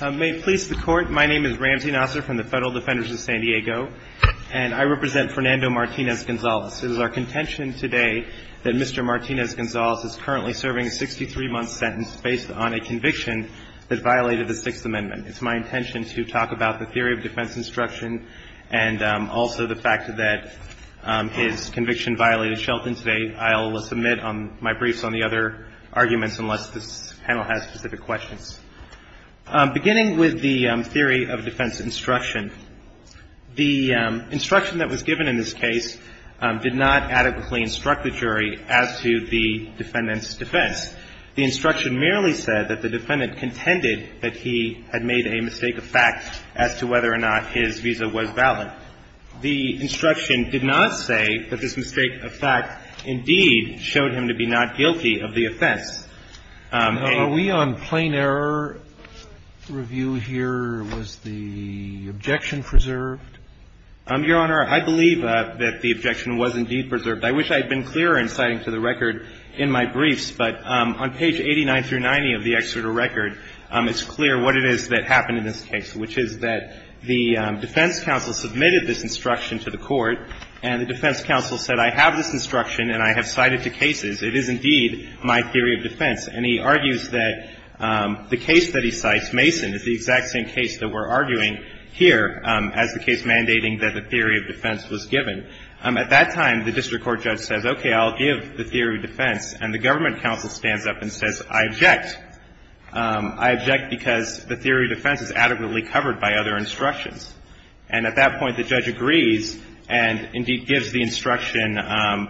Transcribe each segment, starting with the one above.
May it please the Court, my name is Ramsey Nasser from the Federal Defenders of San Diego, and I represent Fernando Martinez-Gonzalez. It is our contention today that Mr. Martinez-Gonzalez is currently serving a 63-month sentence based on a conviction that violated the Sixth Amendment. It's my intention to talk about the theory of defense instruction and also the fact that his conviction violated Shelton today. I'll submit my briefs on the other arguments unless this panel has specific questions. Beginning with the theory of defense instruction, the instruction that was given in this case did not adequately instruct the jury as to the defendant's defense. The instruction merely said that the defendant contended that he had made a mistake of fact as to whether or not his visa was valid. The instruction did not say that this mistake of fact indeed showed him to be not guilty of the offense. Are we on plain error review here? Was the objection preserved? Your Honor, I believe that the objection was indeed preserved. I wish I had been clearer in citing to the record in my briefs, but on page 89 through 90 of the Exeter record, it's clear what it is that happened in this case, which is that the defense counsel submitted this instruction to the Court, and the defense counsel said, I have this instruction and I have cited to cases. It is indeed my theory of defense. And he argues that the case that he cites, Mason, is the exact same case that we're arguing here as the case mandating that the theory of defense was given. At that time, the district court judge says, okay, I'll give the theory of defense. And the government counsel stands up and says, I object. I object because the theory of defense is adequately covered by other instructions. And at that point, the judge agrees and indeed gives the instruction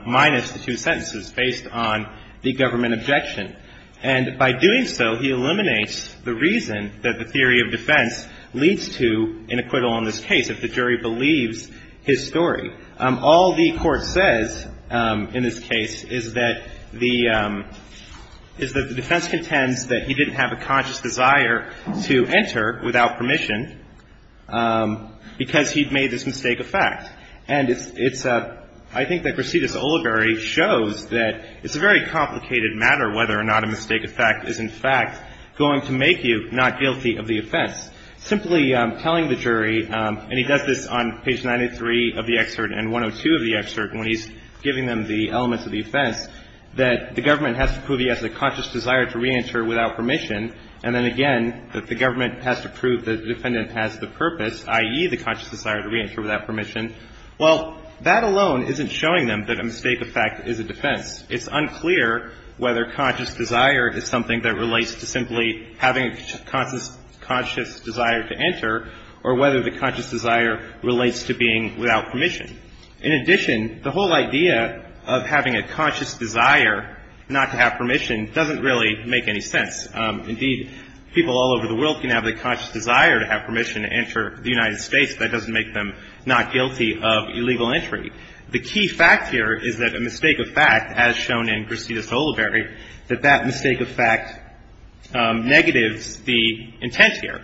minus the two sentences based on the government objection. And by doing so, he eliminates the reason that the theory of defense leads to an acquittal in this case if the jury believes his story. All the Court says in this case is that the defense contends that he didn't have a conscious desire to enter without permission. Because he'd made this mistake of fact. And it's a – I think that Crescides-Oliveri shows that it's a very complicated matter whether or not a mistake of fact is in fact going to make you not guilty of the offense. Simply telling the jury, and he does this on page 93 of the excerpt and 102 of the excerpt when he's giving them the elements of the offense, that the government has to prove he has a conscious desire to reenter without permission, and then again that the government has to prove that the defendant has the purpose, i.e., the conscious desire to reenter without permission, well, that alone isn't showing them that a mistake of fact is a defense. It's unclear whether conscious desire is something that relates to simply having a conscious desire to enter or whether the conscious desire relates to being without permission. In addition, the whole idea of having a conscious desire not to have permission doesn't really make any sense. Indeed, people all over the world can have the conscious desire to have permission to enter the United States. That doesn't make them not guilty of illegal entry. The key fact here is that a mistake of fact, as shown in Crescides-Oliveri, that that mistake of fact negatives the intent here.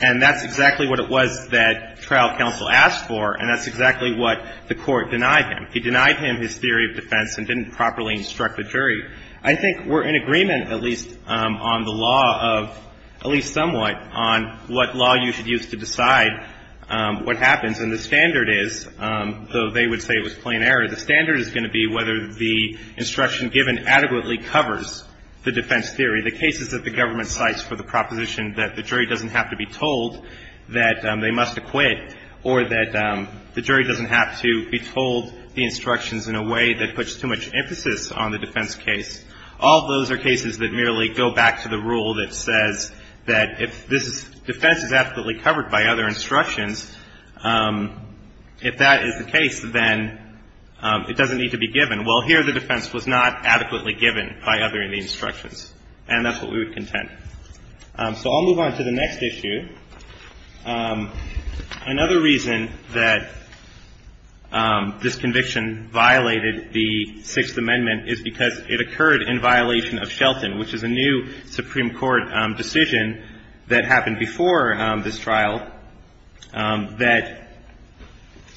And that's exactly what it was that trial counsel asked for, and that's exactly what the Court denied him. It denied him his theory of defense and didn't properly instruct the jury. I think we're in agreement, at least on the law of, at least somewhat, on what law you should use to decide what happens. And the standard is, though they would say it was plain error, the standard is going to be whether the instruction given adequately covers the defense theory. The cases that the government cites for the proposition that the jury doesn't have to be told that they must acquit or that the jury doesn't have to be told the instructions in a way that puts too much emphasis on the defense case, all of those are cases that merely go back to the rule that says that if this defense is adequately covered by other instructions, if that is the case, then it doesn't need to be given. Well, here the defense was not adequately given by other instructions, and that's what we would contend. So I'll move on to the next issue. Another reason that this conviction violated the Sixth Amendment is because it occurred in violation of Shelton, which is a new Supreme Court decision that happened before this trial, that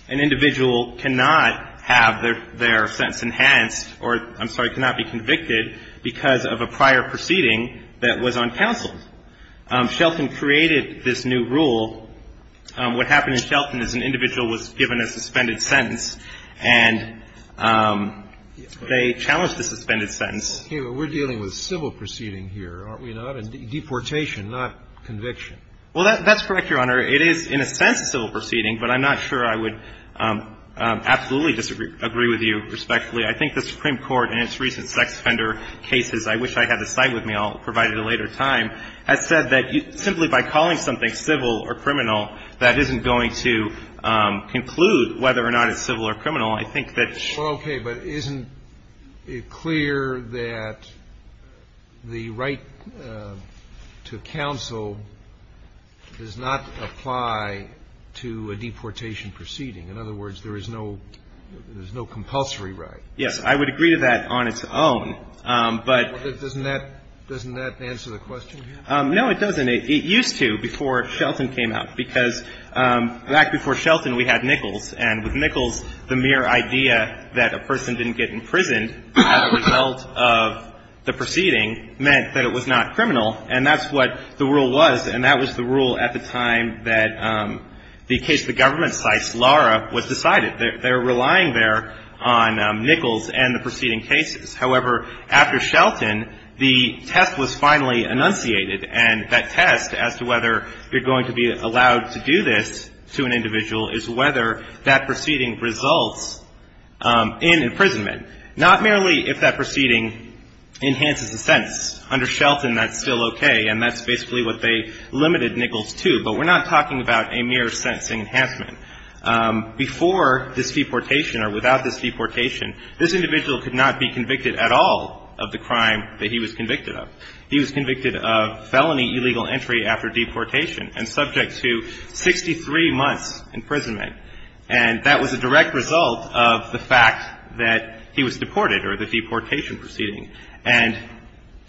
an individual cannot have their sentence enhanced or, I'm sorry, cannot be convicted because of a prior proceeding that was on counsel. Shelton created this new rule. What happened in Shelton is an individual was given a suspended sentence, and they challenged the suspended sentence. Okay, but we're dealing with civil proceeding here, aren't we? Not a deportation, not conviction. Well, that's correct, Your Honor. It is in a sense a civil proceeding, but I'm not sure I would absolutely disagree, agree with you respectfully. I think the Supreme Court, in its recent sex offender cases, I wish I had the site with me. I'll provide it at a later time, has said that simply by calling something civil or criminal, that isn't going to conclude whether or not it's civil or criminal. I think that it should. Well, okay, but isn't it clear that the right to counsel does not apply to a deportation proceeding? In other words, there is no compulsory right. Yes, I would agree to that on its own. But doesn't that answer the question here? No, it doesn't. It used to before Shelton came out, because back before Shelton, we had Nichols, and with Nichols, the mere idea that a person didn't get imprisoned as a result of the proceeding meant that it was not criminal, and that's what the rule was. And that was the rule at the time that the case the government cites, Lara, was decided. They're relying there on Nichols and the preceding cases. However, after Shelton, the test was finally enunciated, and that test as to whether you're going to be allowed to do this to an individual is whether that proceeding results in imprisonment, not merely if that proceeding enhances the sentence. Under Shelton, that's still okay, and that's basically what they limited Nichols to. But we're not talking about a mere sentencing enhancement. Before this deportation or without this deportation, this individual could not be convicted at all of the crime that he was convicted of. He was convicted of felony illegal entry after deportation and subject to 63 months' imprisonment. And that was a direct result of the fact that he was deported or the deportation proceeding. And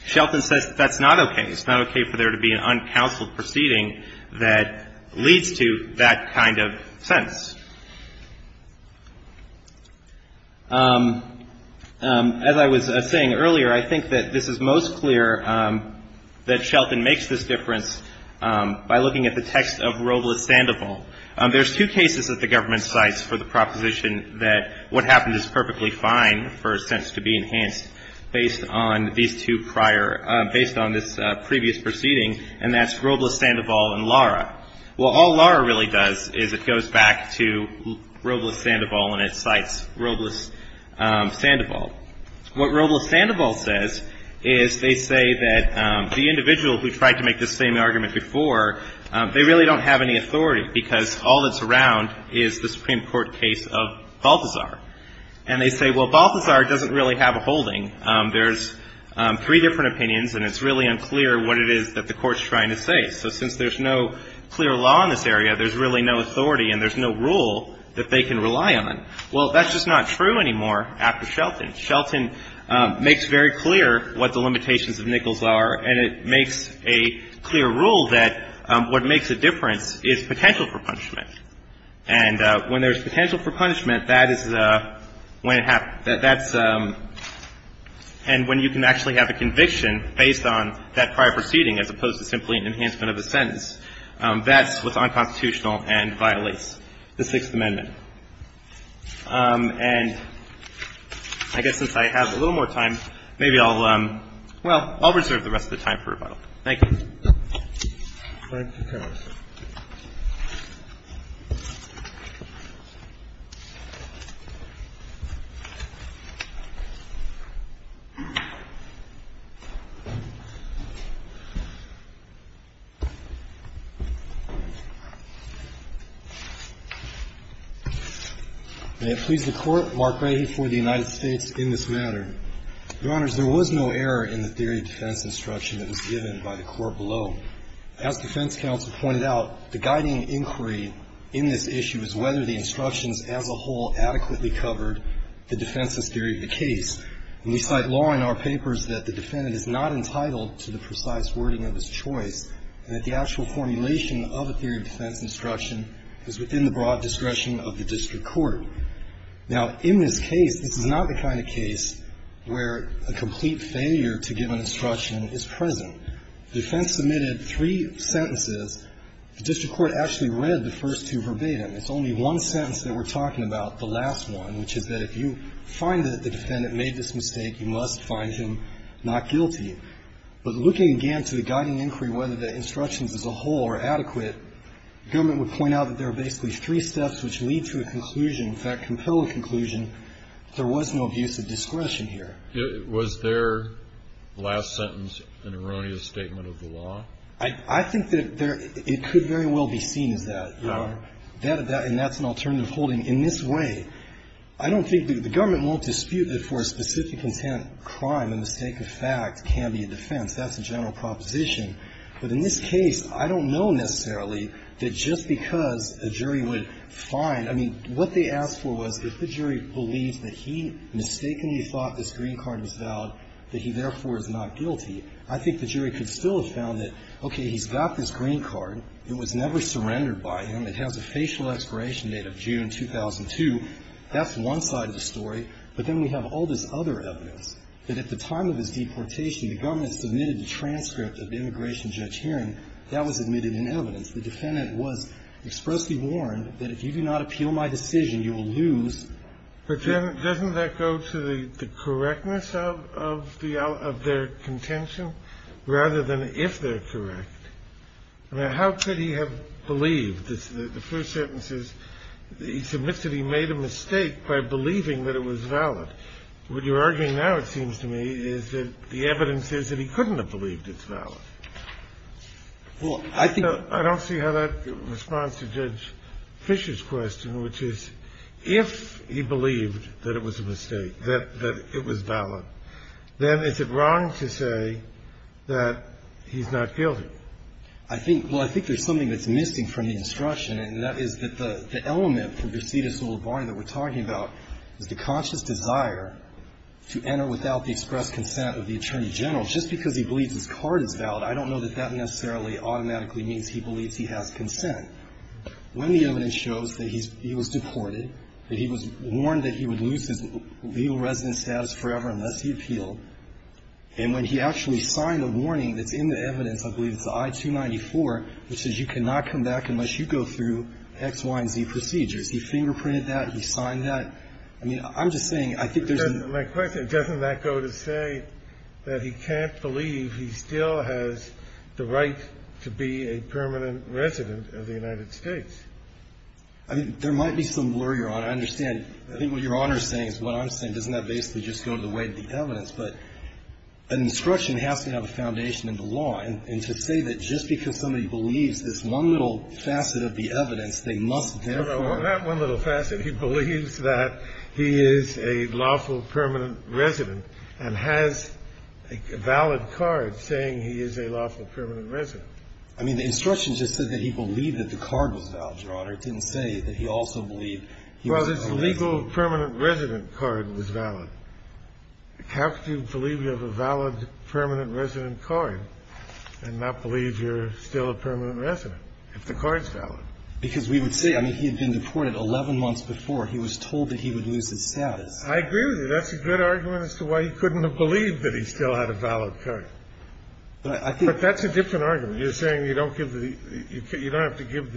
Shelton says that's not okay. It's not okay for there to be an uncounseled proceeding that leads to that kind of sentence. As I was saying earlier, I think that this is most clear that Shelton makes this difference by looking at the text of Roble's Sandoval. There's two cases that the government cites for the proposition that what happened is perfectly fine for a sentence to be enhanced based on these two prior – based on this previous proceeding, and that's Roble's Sandoval and Lara. Well, all Lara really does is it goes back to Roble's Sandoval and it cites Roble's Sandoval. What Roble's Sandoval says is they say that the individual who tried to make this same argument before, they really don't have any authority because all that's around is the Supreme Court case of Balthazar. And they say, well, Balthazar doesn't really have a holding. There's three different opinions and it's really unclear what it is that the Court's trying to say. So since there's no clear law in this area, there's really no authority and there's no rule that they can rely on. Well, that's just not true anymore after Shelton. Shelton makes very clear what the limitations of Nichols are and it makes a clear rule that what makes a difference is potential for punishment. And when there's potential for punishment, that is when it happens – that's – and when you can actually have a conviction based on that prior proceeding as opposed to simply an enhancement of the sentence, that's what's unconstitutional and violates the Sixth Amendment. And I guess since I have a little more time, maybe I'll – well, I'll reserve the rest of the time for rebuttal. Thank you. Thank you, Court. May it please the Court, Mark Brady for the United States in this matter. Your Honors, there was no error in the theory of defense instruction that was given by the Court below. As defense counsel pointed out, the guiding inquiry in this issue is whether the instructions as a whole adequately covered the defenseless theory of the case. And we cite law in our papers that the defendant is not entitled to the precise wording of his choice and that the actual formulation of a theory of defense instruction is within the broad discretion of the district court. Now, in this case, this is not the kind of case where a complete failure to give an instruction is present. The defense submitted three sentences. The district court actually read the first two verbatim. It's only one sentence that we're talking about, the last one, which is that if you find that the defendant made this mistake, you must find him not guilty. But looking again to the guiding inquiry, whether the instructions as a whole are adequate, the government would point out that there are basically three steps which lead to a conclusion. In fact, compel a conclusion that there was no abuse of discretion here. Was their last sentence an erroneous statement of the law? I think that it could very well be seen as that. And that's an alternative holding. In this way, I don't think the government will dispute that for a specific intent, crime in the sake of fact can be a defense. That's a general proposition. But in this case, I don't know necessarily that just because a jury would find, I mean, what they asked for was if the jury believes that he mistakenly thought this green card was valid, that he therefore is not guilty, I think the jury could still have found that, okay, he's got this green card. It was never surrendered by him. It has a facial expiration date of June 2002. That's one side of the story. But then we have all this other evidence that at the time of his deportation, the government submitted a transcript of the immigration judge hearing. That was admitted in evidence. The defendant was expressly warned that if you do not appeal my decision, you will lose. But then doesn't that go to the correctness of their contention rather than if they're correct? I mean, how could he have believed the first sentences? He submits that he made a mistake by believing that it was valid. What you're arguing now, it seems to me, is that the evidence is that he couldn't have believed it's valid. So I don't see how that responds to Judge Fisher's question, which is if he believed that it was a mistake, that it was valid, then is it wrong to say that he's not guilty? I think there's something that's missing from the instruction, and that is that the conscience desire to enter without the express consent of the attorney general, just because he believes his card is valid, I don't know that that necessarily automatically means he believes he has consent. When the evidence shows that he was deported, that he was warned that he would lose his legal residence status forever unless he appealed, and when he actually signed a warning that's in the evidence, I believe it's I-294, which says you cannot come back unless you go through X, Y, and Z procedures, he fingerprinted that, he signed that. I mean, I'm just saying, I think there's an --- My question, doesn't that go to say that he can't believe he still has the right to be a permanent resident of the United States? I mean, there might be some worry, Your Honor. I understand. I think what Your Honor is saying is what I'm saying. Doesn't that basically just go to the weight of the evidence? But an instruction has to have a foundation in the law. And to say that just because somebody believes this one little facet of the evidence, they must therefore ---- No, no. On that one little facet, he believes that he is a lawful permanent resident and has a valid card saying he is a lawful permanent resident. I mean, the instruction just said that he believed that the card was valid, Your Honor. It didn't say that he also believed he was a permanent resident. Well, his legal permanent resident card was valid. How could you believe you have a valid permanent resident card and not believe you're still a permanent resident if the card's valid? Because we would say, I mean, he had been deported 11 months before. He was told that he would lose his status. I agree with you. That's a good argument as to why he couldn't have believed that he still had a valid card. But I think ---- But that's a different argument. You're saying you don't give the ---- you don't have to give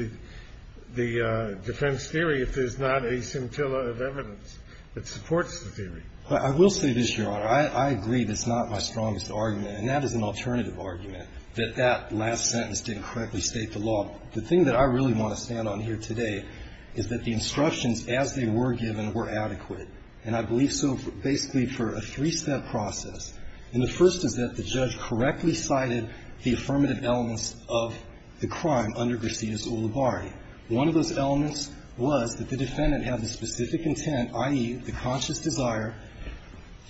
the defense theory if there's not a scintilla of evidence that supports the theory. I will say this, Your Honor. I agree that's not my strongest argument. And that is an alternative argument, that that last sentence didn't correctly state the law. The thing that I really want to stand on here today is that the instructions as they were given were adequate. And I believe so basically for a three-step process. And the first is that the judge correctly cited the affirmative elements of the crime under Gracias Ulibarri. One of those elements was that the defendant had the specific intent, i.e., the conscious desire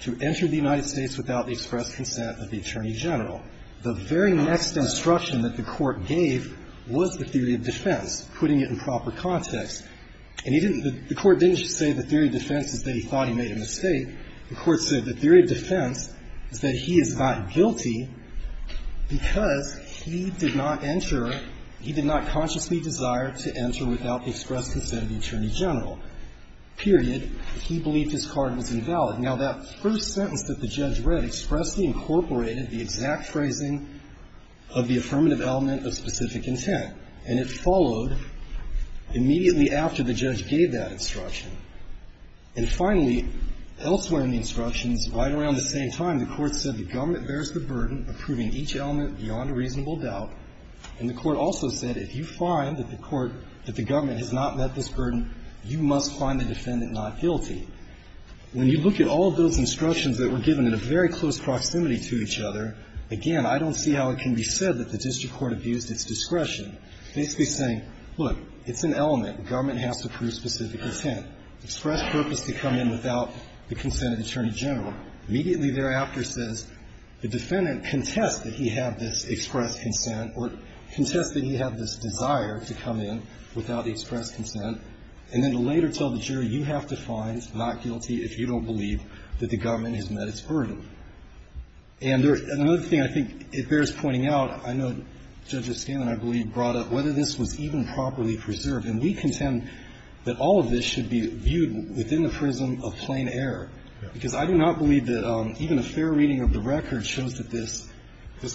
to enter the United States without the express consent of the Attorney General. The very next instruction that the Court gave was the theory of defense, putting it in proper context. And he didn't ---- the Court didn't just say the theory of defense is that he thought he made a mistake. The Court said the theory of defense is that he is not guilty because he did not enter ---- he did not consciously desire to enter without the express consent of the Attorney General, period. He believed his card was invalid. Now, that first sentence that the judge read expressly incorporated the exact phrasing of the affirmative element of specific intent. And it followed immediately after the judge gave that instruction. And finally, elsewhere in the instructions, right around the same time, the Court said the government bears the burden of proving each element beyond a reasonable doubt. And the Court also said if you find that the court ---- that the government has not met this burden, you must find the defendant not guilty. When you look at all of those instructions that were given in a very close proximity to each other, again, I don't see how it can be said that the district court abused its discretion, basically saying, look, it's an element. The government has to prove specific intent, express purpose to come in without the consent of the Attorney General. Immediately thereafter says the defendant contests that he had this express consent or contests that he had this desire to come in without the express consent, and then to later tell the jury, you have to find not guilty if you don't believe that the government has met its burden. And there's another thing I think it bears pointing out. I know Judge O'Scanlan, I believe, brought up whether this was even properly preserved. And we contend that all of this should be viewed within the prism of plain error. Because I do not believe that even a fair reading of the record shows that this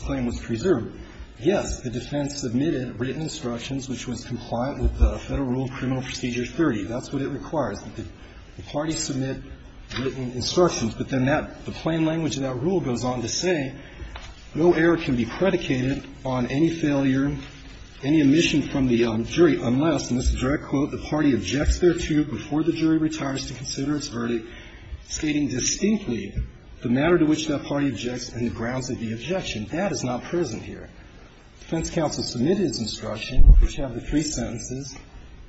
claim was preserved. Yes, the defense submitted written instructions which was compliant with the Federal Rule of Criminal Procedure 30. That's what it requires, that the parties submit written instructions. But then that, the plain language of that rule goes on to say, no error can be predicated on any failure, any omission from the jury unless, and this is a direct quote, the party objects thereto before the jury retires to consider its verdict, stating distinctly the matter to which that party objects and the grounds of the objection. That is not present here. The defense counsel submitted its instruction, which have the three sentences.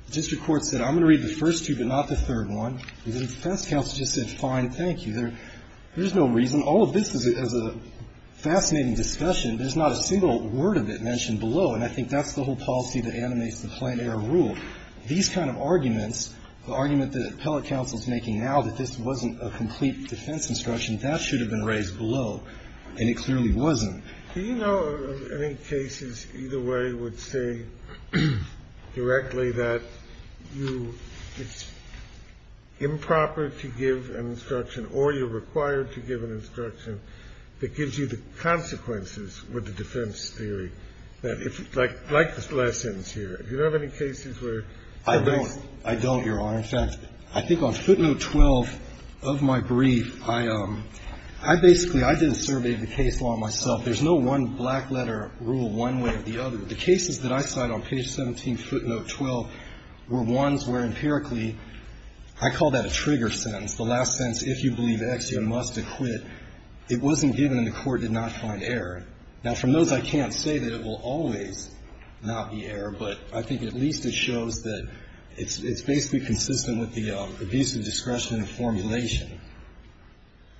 The district court said, I'm going to read the first two, but not the third one. And then the defense counsel just said, fine, thank you. There's no reason. All of this is a fascinating discussion. There's not a single word of it mentioned below. And I think that's the whole policy that animates the plain error rule. These kind of arguments, the argument that appellate counsel is making now that this wasn't a complete defense instruction, that should have been raised below. And it clearly wasn't. Do you know of any cases, either way, would say directly that you, it's improper to give an instruction or you're required to give an instruction that gives you the consequences with the defense theory, that if, like the last sentence here, do you have any cases where the defense theory? I don't, Your Honor. In fact, I think on footnote 12 of my brief, I basically, I did a survey of the case law myself. There's no one black-letter rule one way or the other. The cases that I cite on page 17, footnote 12, were ones where empirically I call that a trigger sentence. The last sentence, if you believe X, you must acquit. It wasn't given and the Court did not find error. Now, from those, I can't say that it will always not be error, but I think at least it shows that it's basically consistent with the abuse of discretion and formulation.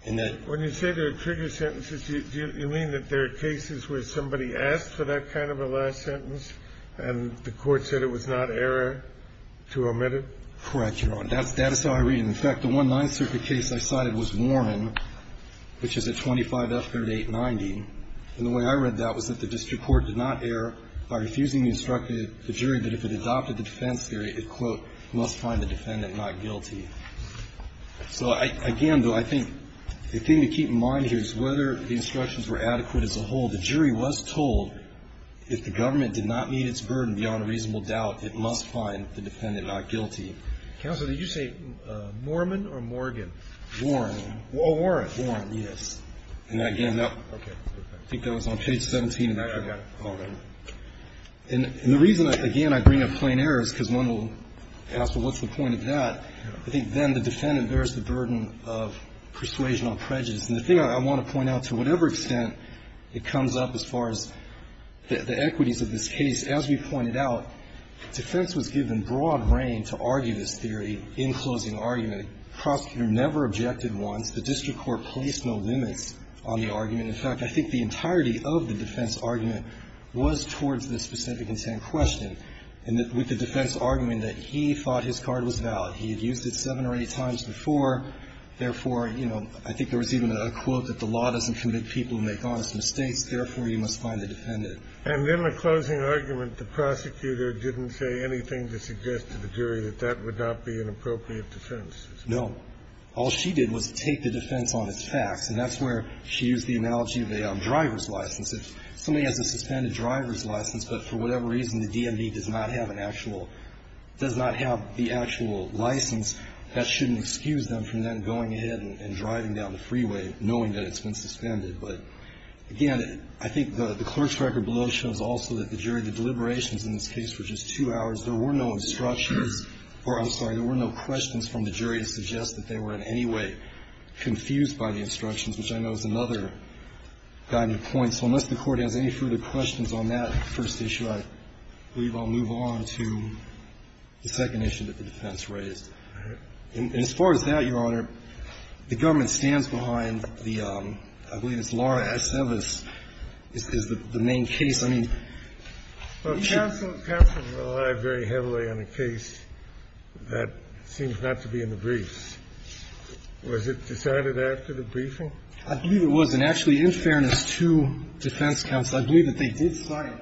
In that ---- Kennedy, when you say there are trigger sentences, do you mean that there are cases where somebody asked for that kind of a last sentence and the Court said it was not error to omit it? Correct, Your Honor. That's how I read it. In fact, the one Ninth Circuit case I cited was Warren, which is at 25 F. 3890. And the way I read that was that the district court did not err by refusing to instruct the jury that if it adopted the defense theory, it, quote, must find the defendant not guilty. So, again, though, I think the thing to keep in mind here is whether the instructions were adequate as a whole. The jury was told if the government did not meet its burden beyond a reasonable doubt, it must find the defendant not guilty. Counsel, did you say Moorman or Morgan? Warren. Oh, Warren. Warren, yes. And again, that ---- Okay. Perfect. I think that was on page 17 of that. I got it. Hold on. And the reason, again, I bring up plain error is because one will ask, well, what's the point of that? I think then the defendant bears the burden of persuasion on prejudice. And the thing I want to point out, to whatever extent it comes up as far as the equities of this case, as we pointed out, defense was given broad reign to argue this theory in closing argument. The prosecutor never objected once. The district court placed no limits on the argument. In fact, I think the entirety of the defense argument was towards the specific intent question. And with the defense argument that he thought his card was valid. He had used it seven or eight times before. Therefore, you know, I think there was even a quote that the law doesn't commit people who make honest mistakes. Therefore, you must find the defendant. And in the closing argument, the prosecutor didn't say anything to suggest to the jury that that would not be an appropriate defense. No. All she did was take the defense on as facts. And that's where she used the analogy of a driver's license. If somebody has a suspended driver's license, but for whatever reason the DMV does not have an actual, does not have the actual license, that shouldn't excuse them from then going ahead and driving down the freeway, knowing that it's been suspended. But again, I think the clerk's record below shows also that the jury, the deliberations in this case were just two hours. There were no instructions or, I'm sorry, there were no questions from the jury to suggest that they were in any way confused by the instructions, which I know is another guiding point. So unless the Court has any further questions on that first issue, I believe I'll move on to the second issue that the defense raised. And as far as that, Your Honor, the government stands behind the, I believe it's Laura Aceves, is the main case. I mean, we should be. Kennedy. Well, counsel relied very heavily on a case that seems not to be in the briefs. Was it decided after the briefing? I believe it was. And actually, in fairness to defense counsel, I believe that they did cite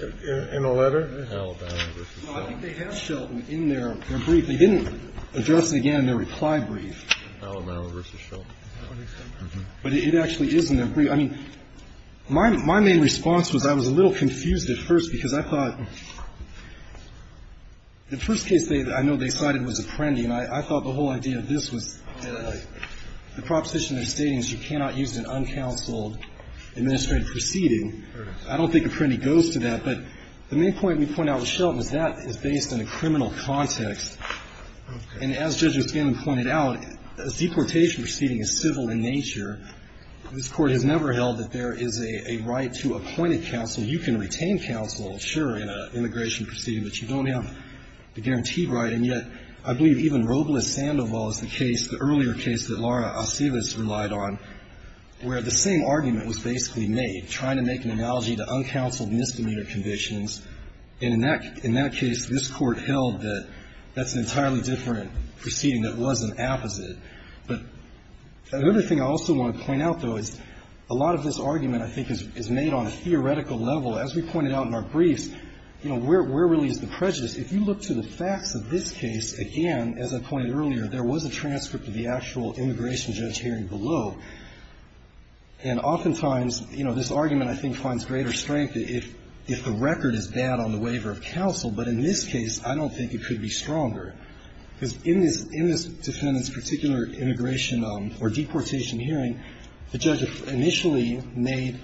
in a letter Alabama v. Shelton. Well, I think they have Shelton in their brief. They didn't address it again in their reply brief. Alabama v. Shelton. But it actually is in their brief. I mean, my main response was I was a little confused at first because I thought the first case I know they cited was Apprendi, and I thought the whole idea of this was the proposition is stating that you cannot use an uncounseled administrative proceeding. I don't think Apprendi goes to that. But the main point we point out with Shelton is that is based on a criminal context. And as Judge O'Skin pointed out, a deportation proceeding is civil in nature. This Court has never held that there is a right to appoint a counsel. You can retain counsel, sure, in an immigration proceeding, but you don't have the guaranteed right. And yet, I believe even Robles-Sandoval is the case, the earlier case that Laura Aceves relied on, where the same argument was basically made, trying to make an immigration proceeding. And in that case, this Court held that that's an entirely different proceeding that was an apposite. But another thing I also want to point out, though, is a lot of this argument, I think, is made on a theoretical level. As we pointed out in our briefs, you know, where really is the prejudice? If you look to the facts of this case, again, as I pointed out earlier, there was a transcript of the actual immigration judge hearing below. And oftentimes, you know, this argument, I think, finds greater strength if the record is bad on the waiver of counsel. But in this case, I don't think it could be stronger. Because in this defendant's particular immigration or deportation hearing, the judge initially made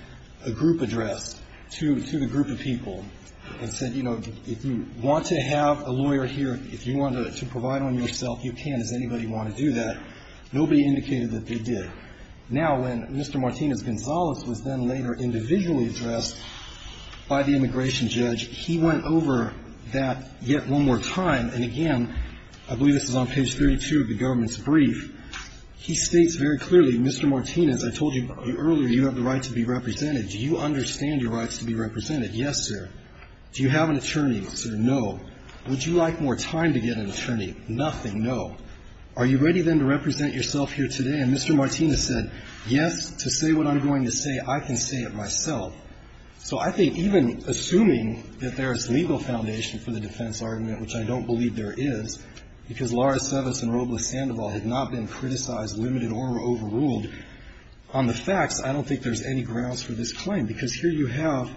a group address to the group of people and said, you know, if you want to have a lawyer here, if you want to provide one yourself, you can. Does anybody want to do that? Nobody indicated that they did. Now, when Mr. Martinez-Gonzalez was then later individually addressed by the immigration judge, he went over that yet one more time. And again, I believe this is on page 32 of the government's brief. He states very clearly, Mr. Martinez, I told you earlier you have the right to be represented. Do you understand your rights to be represented? Yes, sir. Do you have an attorney? Sir, no. Would you like more time to get an attorney? Nothing. No. Are you ready, then, to represent yourself here today? And Mr. Martinez said, yes, to say what I'm going to say, I can say it myself. So I think even assuming that there is legal foundation for the defense argument, which I don't believe there is, because Laura Sevis and Robla Sandoval had not been criticized, limited or overruled on the facts, I don't think there's any grounds for this claim, because here you have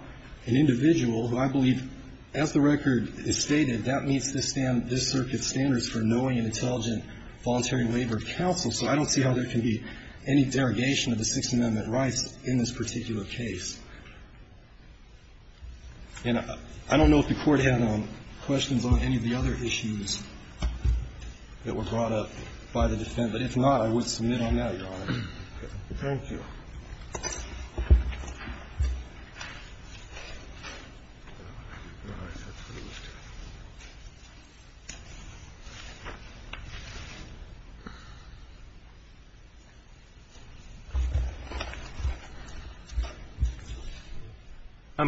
an individual who I believe, as the record is stated, that meets this circuit's standards for knowing and intelligent voluntary labor counsel. So I don't see how there can be any derogation of the Sixth Amendment rights in this particular case. And I don't know if the Court had questions on any of the other issues that were brought up by the defense, but if not, I would submit on that, Your Honor. Thank you.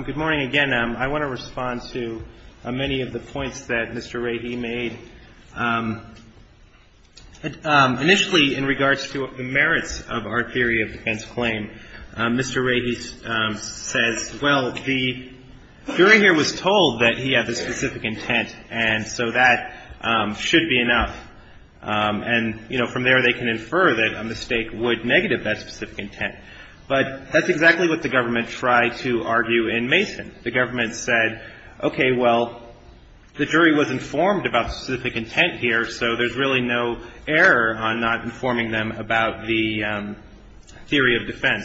Good morning. Again, I want to respond to many of the points that Mr. Rahe made. Initially, in regards to the merits of our theory of defense claim, Mr. Rahe says, well, the jury here was told that he had the specific intent, and so that should be enough. And, you know, from there they can infer that a mistake would negative that specific intent. But that's exactly what the government tried to argue in Mason. The government said, okay, well, the jury was informed about specific intent here, so there's really no error on not informing them about the theory of defense.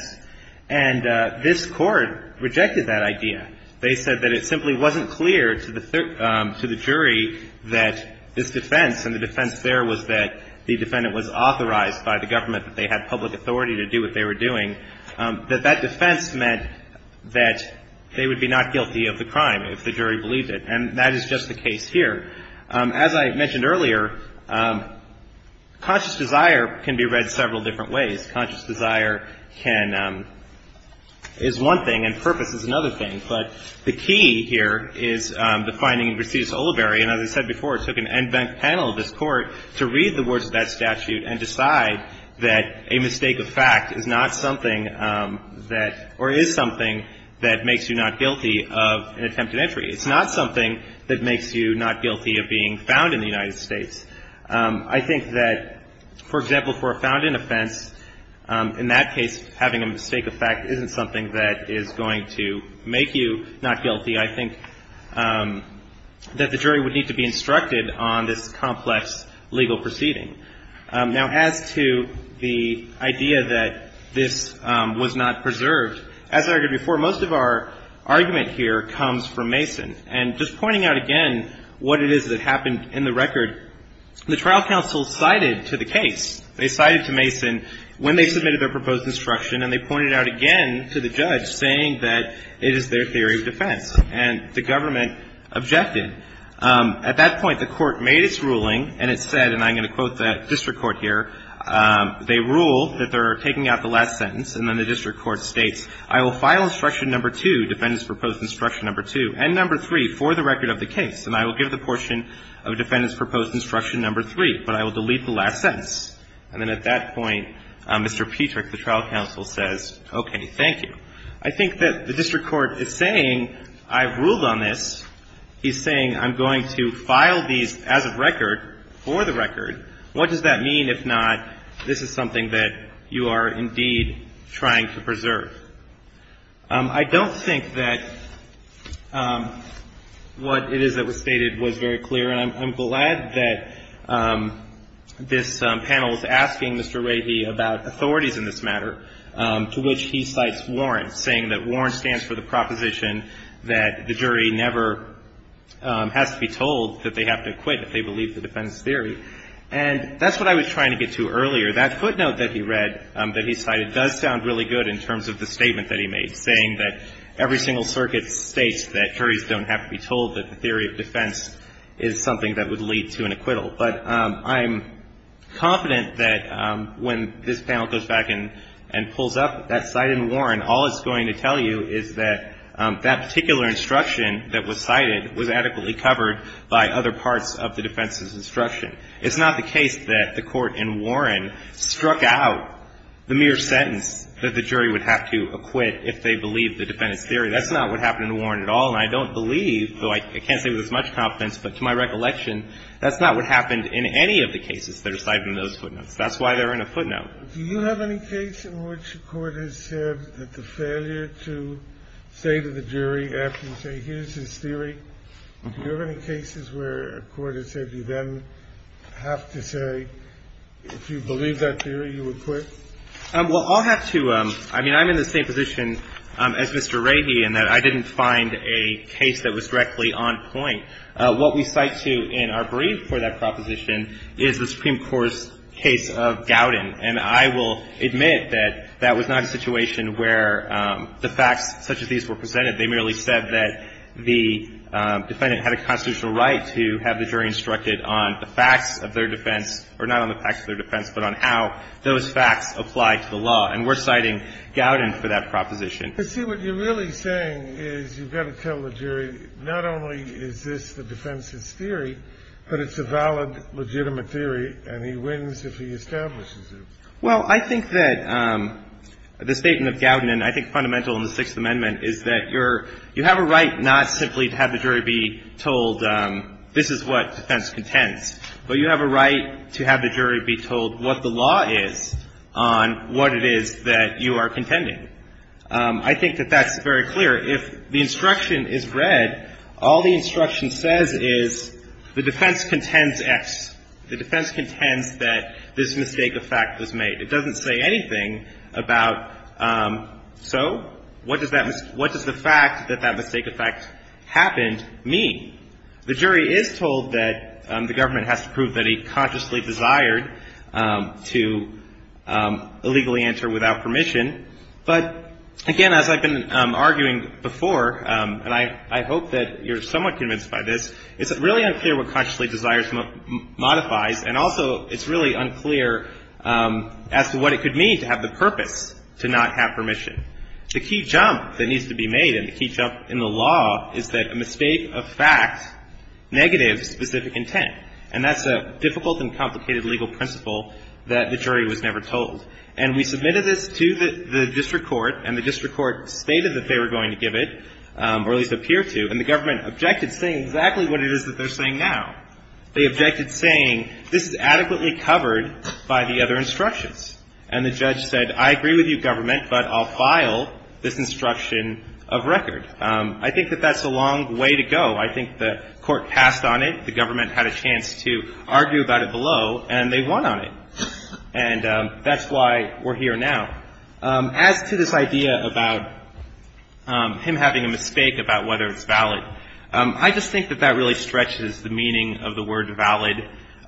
And this Court rejected that idea. They said that it simply wasn't clear to the jury that this defense, and the defense there was that the defendant was authorized by the government, that they had public authority to do what they were doing, that that defense meant that they would be not guilty of the crime if the jury believed it. And that is just the case here. As I mentioned earlier, conscious desire can be read several different ways. Conscious desire can — is one thing, and purpose is another thing. But the key here is the finding in Prestigious-Oliveri, and as I said before, it took an event panel of this Court to read the words of that statute and decide that a mistake of fact is not something that — or is something that makes you not guilty of an attempted entry. It's not something that makes you not guilty of being found in the United States. I think that, for example, for a found-in offense, in that case, having a mistake of fact isn't something that is going to make you not guilty. I think that the jury would need to be instructed on this complex legal proceeding. Now, as to the idea that this was not preserved, as I argued before, most of our argument here comes from Mason. And just pointing out again what it is that happened in the record, the trial counsel cited to the case, they cited to Mason when they submitted their proposed instruction, and they pointed out again to the judge saying that it is their theory of defense. And the government objected. At that point, the Court made its ruling, and it said, and I'm going to quote the district court here, they ruled that they're taking out the last sentence, and then the district court states, I will file instruction number two, defendants' proposed instruction number two, and number three for the record of the case, and I will give the portion of defendants' proposed instruction number three, but I will delete the last sentence. And then at that point, Mr. Petrick, the trial counsel, says, okay, thank you. I think that the district court is saying I've ruled on this. He's saying I'm going to file these as of record for the record. What does that mean if not this is something that you are indeed trying to preserve? I don't think that what it is that was stated was very clear. And I'm glad that this panel is asking Mr. Leahy about authorities in this matter, to which he cites Warren, saying that Warren stands for the proposition that the jury never has to be told that they have to acquit if they believe the defense theory. And that's what I was trying to get to earlier. That footnote that he read, that he cited, does sound really good in terms of the statement that he made, saying that every single circuit states that juries don't have to be told that the theory of defense is something that would lead to an acquittal. But I'm confident that when this panel goes back and pulls up that cite in Warren, all it's going to tell you is that that particular instruction that was cited was adequately covered by other parts of the defense's instruction. It's not the case that the Court in Warren struck out the mere sentence that the jury would have to acquit if they believed the defense theory. That's not what happened in Warren at all. And I don't believe, though I can't say with as much confidence, but to my recollection, that's not what happened in any of the cases that are cited in those footnotes. That's why they're in a footnote. Do you have any case in which a court has said that the failure to say to the jury after you say here's his theory, do you have any cases where a court has said you then have to say if you believe that theory, you acquit? Well, I'll have to. I mean, I'm in the same position as Mr. Rahey in that I didn't find a case that was directly on point. What we cite to in our brief for that proposition is the Supreme Court's case of Gowden. And I will admit that that was not a situation where the facts such as these were presented. They merely said that the defendant had a constitutional right to have the jury instructed on the facts of their defense, or not on the facts of their defense, but on how those facts apply to the law. And we're citing Gowden for that proposition. But see, what you're really saying is you've got to tell the jury not only is this the defense's theory, but it's a valid, legitimate theory, and he wins if he establishes it. Well, I think that the statement of Gowden, and I think fundamental in the Sixth Amendment, is that you're you have a right not simply to have the jury be told this is what defense contends, but you have a right to have the jury be told what the law is on what it is that you are contending. I think that that's very clear. If the instruction is read, all the instruction says is the defense contends X. The defense contends that this mistake of fact was made. It doesn't say anything about, so, what does that what does the fact that that mistake of fact happened mean? The jury is told that the government has to prove that he consciously desired to illegally enter without permission. But, again, as I've been arguing before, and I hope that you're somewhat convinced by this, it's really unclear what consciously desires modifies, and also it's really unclear as to what it could mean to have the purpose to not have permission. The key jump that needs to be made and the key jump in the law is that a mistake of fact negatives specific intent, and that's a difficult and complicated legal principle that the jury was never told. And we submitted this to the district court, and the district court stated that they were going to give it, or at least appear to, and the government objected, saying exactly what it is that they're saying now. They objected, saying this is adequately covered by the other instructions. And the judge said, I agree with you, government, but I'll file this instruction of record. I think that that's a long way to go. I think the court passed on it. The government had a chance to argue about it below, and they won on it. And that's why we're here now. As to this idea about him having a mistake about whether it's valid, I just think that that really stretches the meaning of the word valid.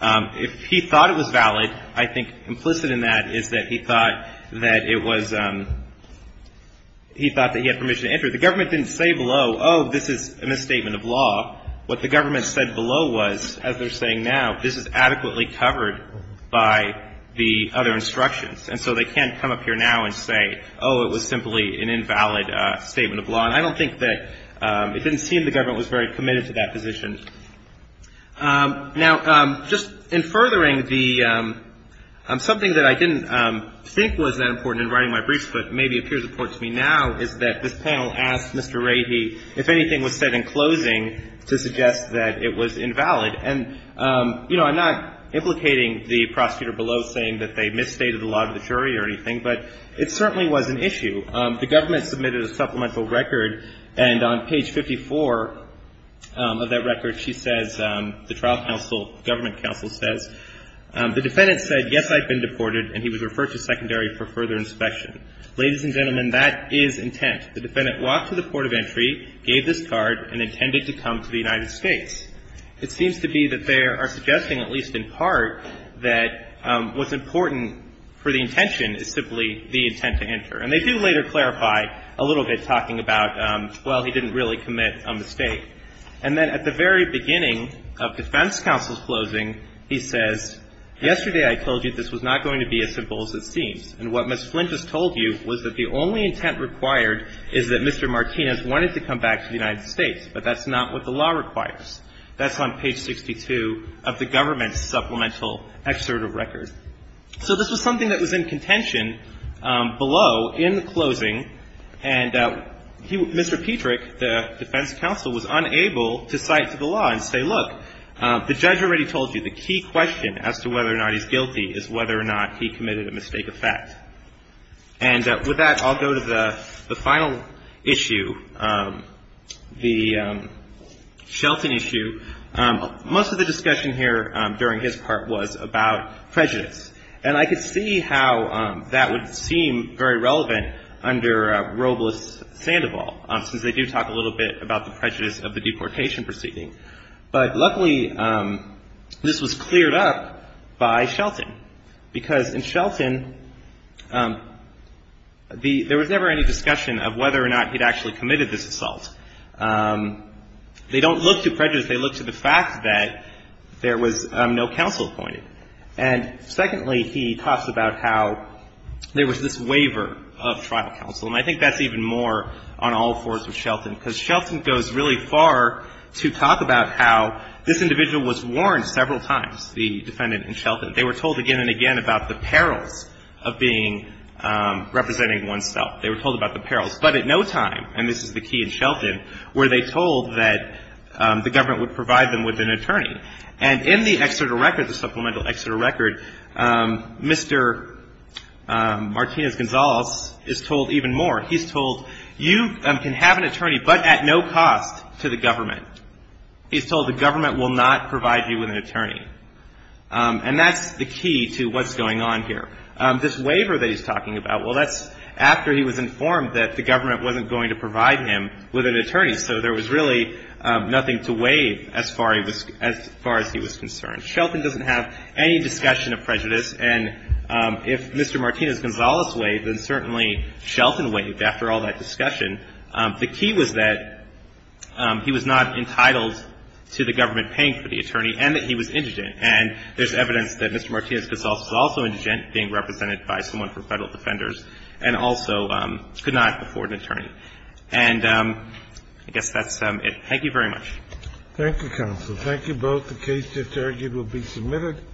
If he thought it was valid, I think implicit in that is that he thought that it was he thought that he had permission to enter. The government didn't say below, oh, this is a misstatement of law. What the government said below was, as they're saying now, this is adequately covered by the other instructions. And so they can't come up here now and say, oh, it was simply an invalid statement of law. And I don't think that it didn't seem the government was very committed to that position. Now, just in furthering the something that I didn't think was that important in that this panel asked Mr. Rahe, if anything was said in closing, to suggest that it was invalid. And, you know, I'm not implicating the prosecutor below saying that they misstated the law to the jury or anything, but it certainly was an issue. The government submitted a supplemental record, and on page 54 of that record, she says, the trial counsel, government counsel says, the defendant said, yes, I've been deported, and he was referred to secondary for further inspection. Ladies and gentlemen, that is intent. The defendant walked to the port of entry, gave this card, and intended to come to the United States. It seems to be that they are suggesting, at least in part, that what's important for the intention is simply the intent to enter. And they do later clarify a little bit, talking about, well, he didn't really commit a mistake. And then at the very beginning of defense counsel's closing, he says, yesterday I told you this was not going to be as simple as it seems. And what Ms. Flint has told you was that the only intent required is that Mr. Martinez wanted to come back to the United States. But that's not what the law requires. That's on page 62 of the government's supplemental excerpt of record. So this was something that was in contention below in the closing, and Mr. Petrick, the defense counsel, was unable to cite to the law and say, look, the judge already told you the key question as to whether or not he's guilty is whether or not he committed a mistake of fact. And with that, I'll go to the final issue, the Shelton issue. Most of the discussion here during his part was about prejudice. And I could see how that would seem very relevant under Robles-Sandoval, since they do talk a little bit about the prejudice of the deportation proceeding. But luckily, this was cleared up by Shelton, because in Shelton, there was never any discussion of whether or not he'd actually committed this assault. They don't look to prejudice. They look to the fact that there was no counsel appointed. And secondly, he talks about how there was this waiver of trial counsel. And I think that's even more on all fours with Shelton, because Shelton goes really far to talk about how this individual was warned several times, the defendant in Shelton. They were told again and again about the perils of being representing oneself. They were told about the perils. But at no time, and this is the key in Shelton, were they told that the government would provide them with an attorney. And in the Exeter record, the supplemental Exeter record, Mr. Martinez-Gonzalez is told even more. He's told you can have an attorney, but at no cost to the government. He's told the government will not provide you with an attorney. And that's the key to what's going on here. This waiver that he's talking about, well, that's after he was informed that the government wasn't going to provide him with an attorney. So there was really nothing to waive as far as he was concerned. Shelton doesn't have any discussion of prejudice. And if Mr. Martinez-Gonzalez waived, then certainly Shelton waived after all that discussion. The key was that he was not entitled to the government paying for the attorney and that he was indigent. And there's evidence that Mr. Martinez-Gonzalez was also indigent being represented by someone from Federal Defenders and also could not afford an attorney. And I guess that's it. Thank you very much. Thank you, counsel. Thank you both. The case just argued will be submitted.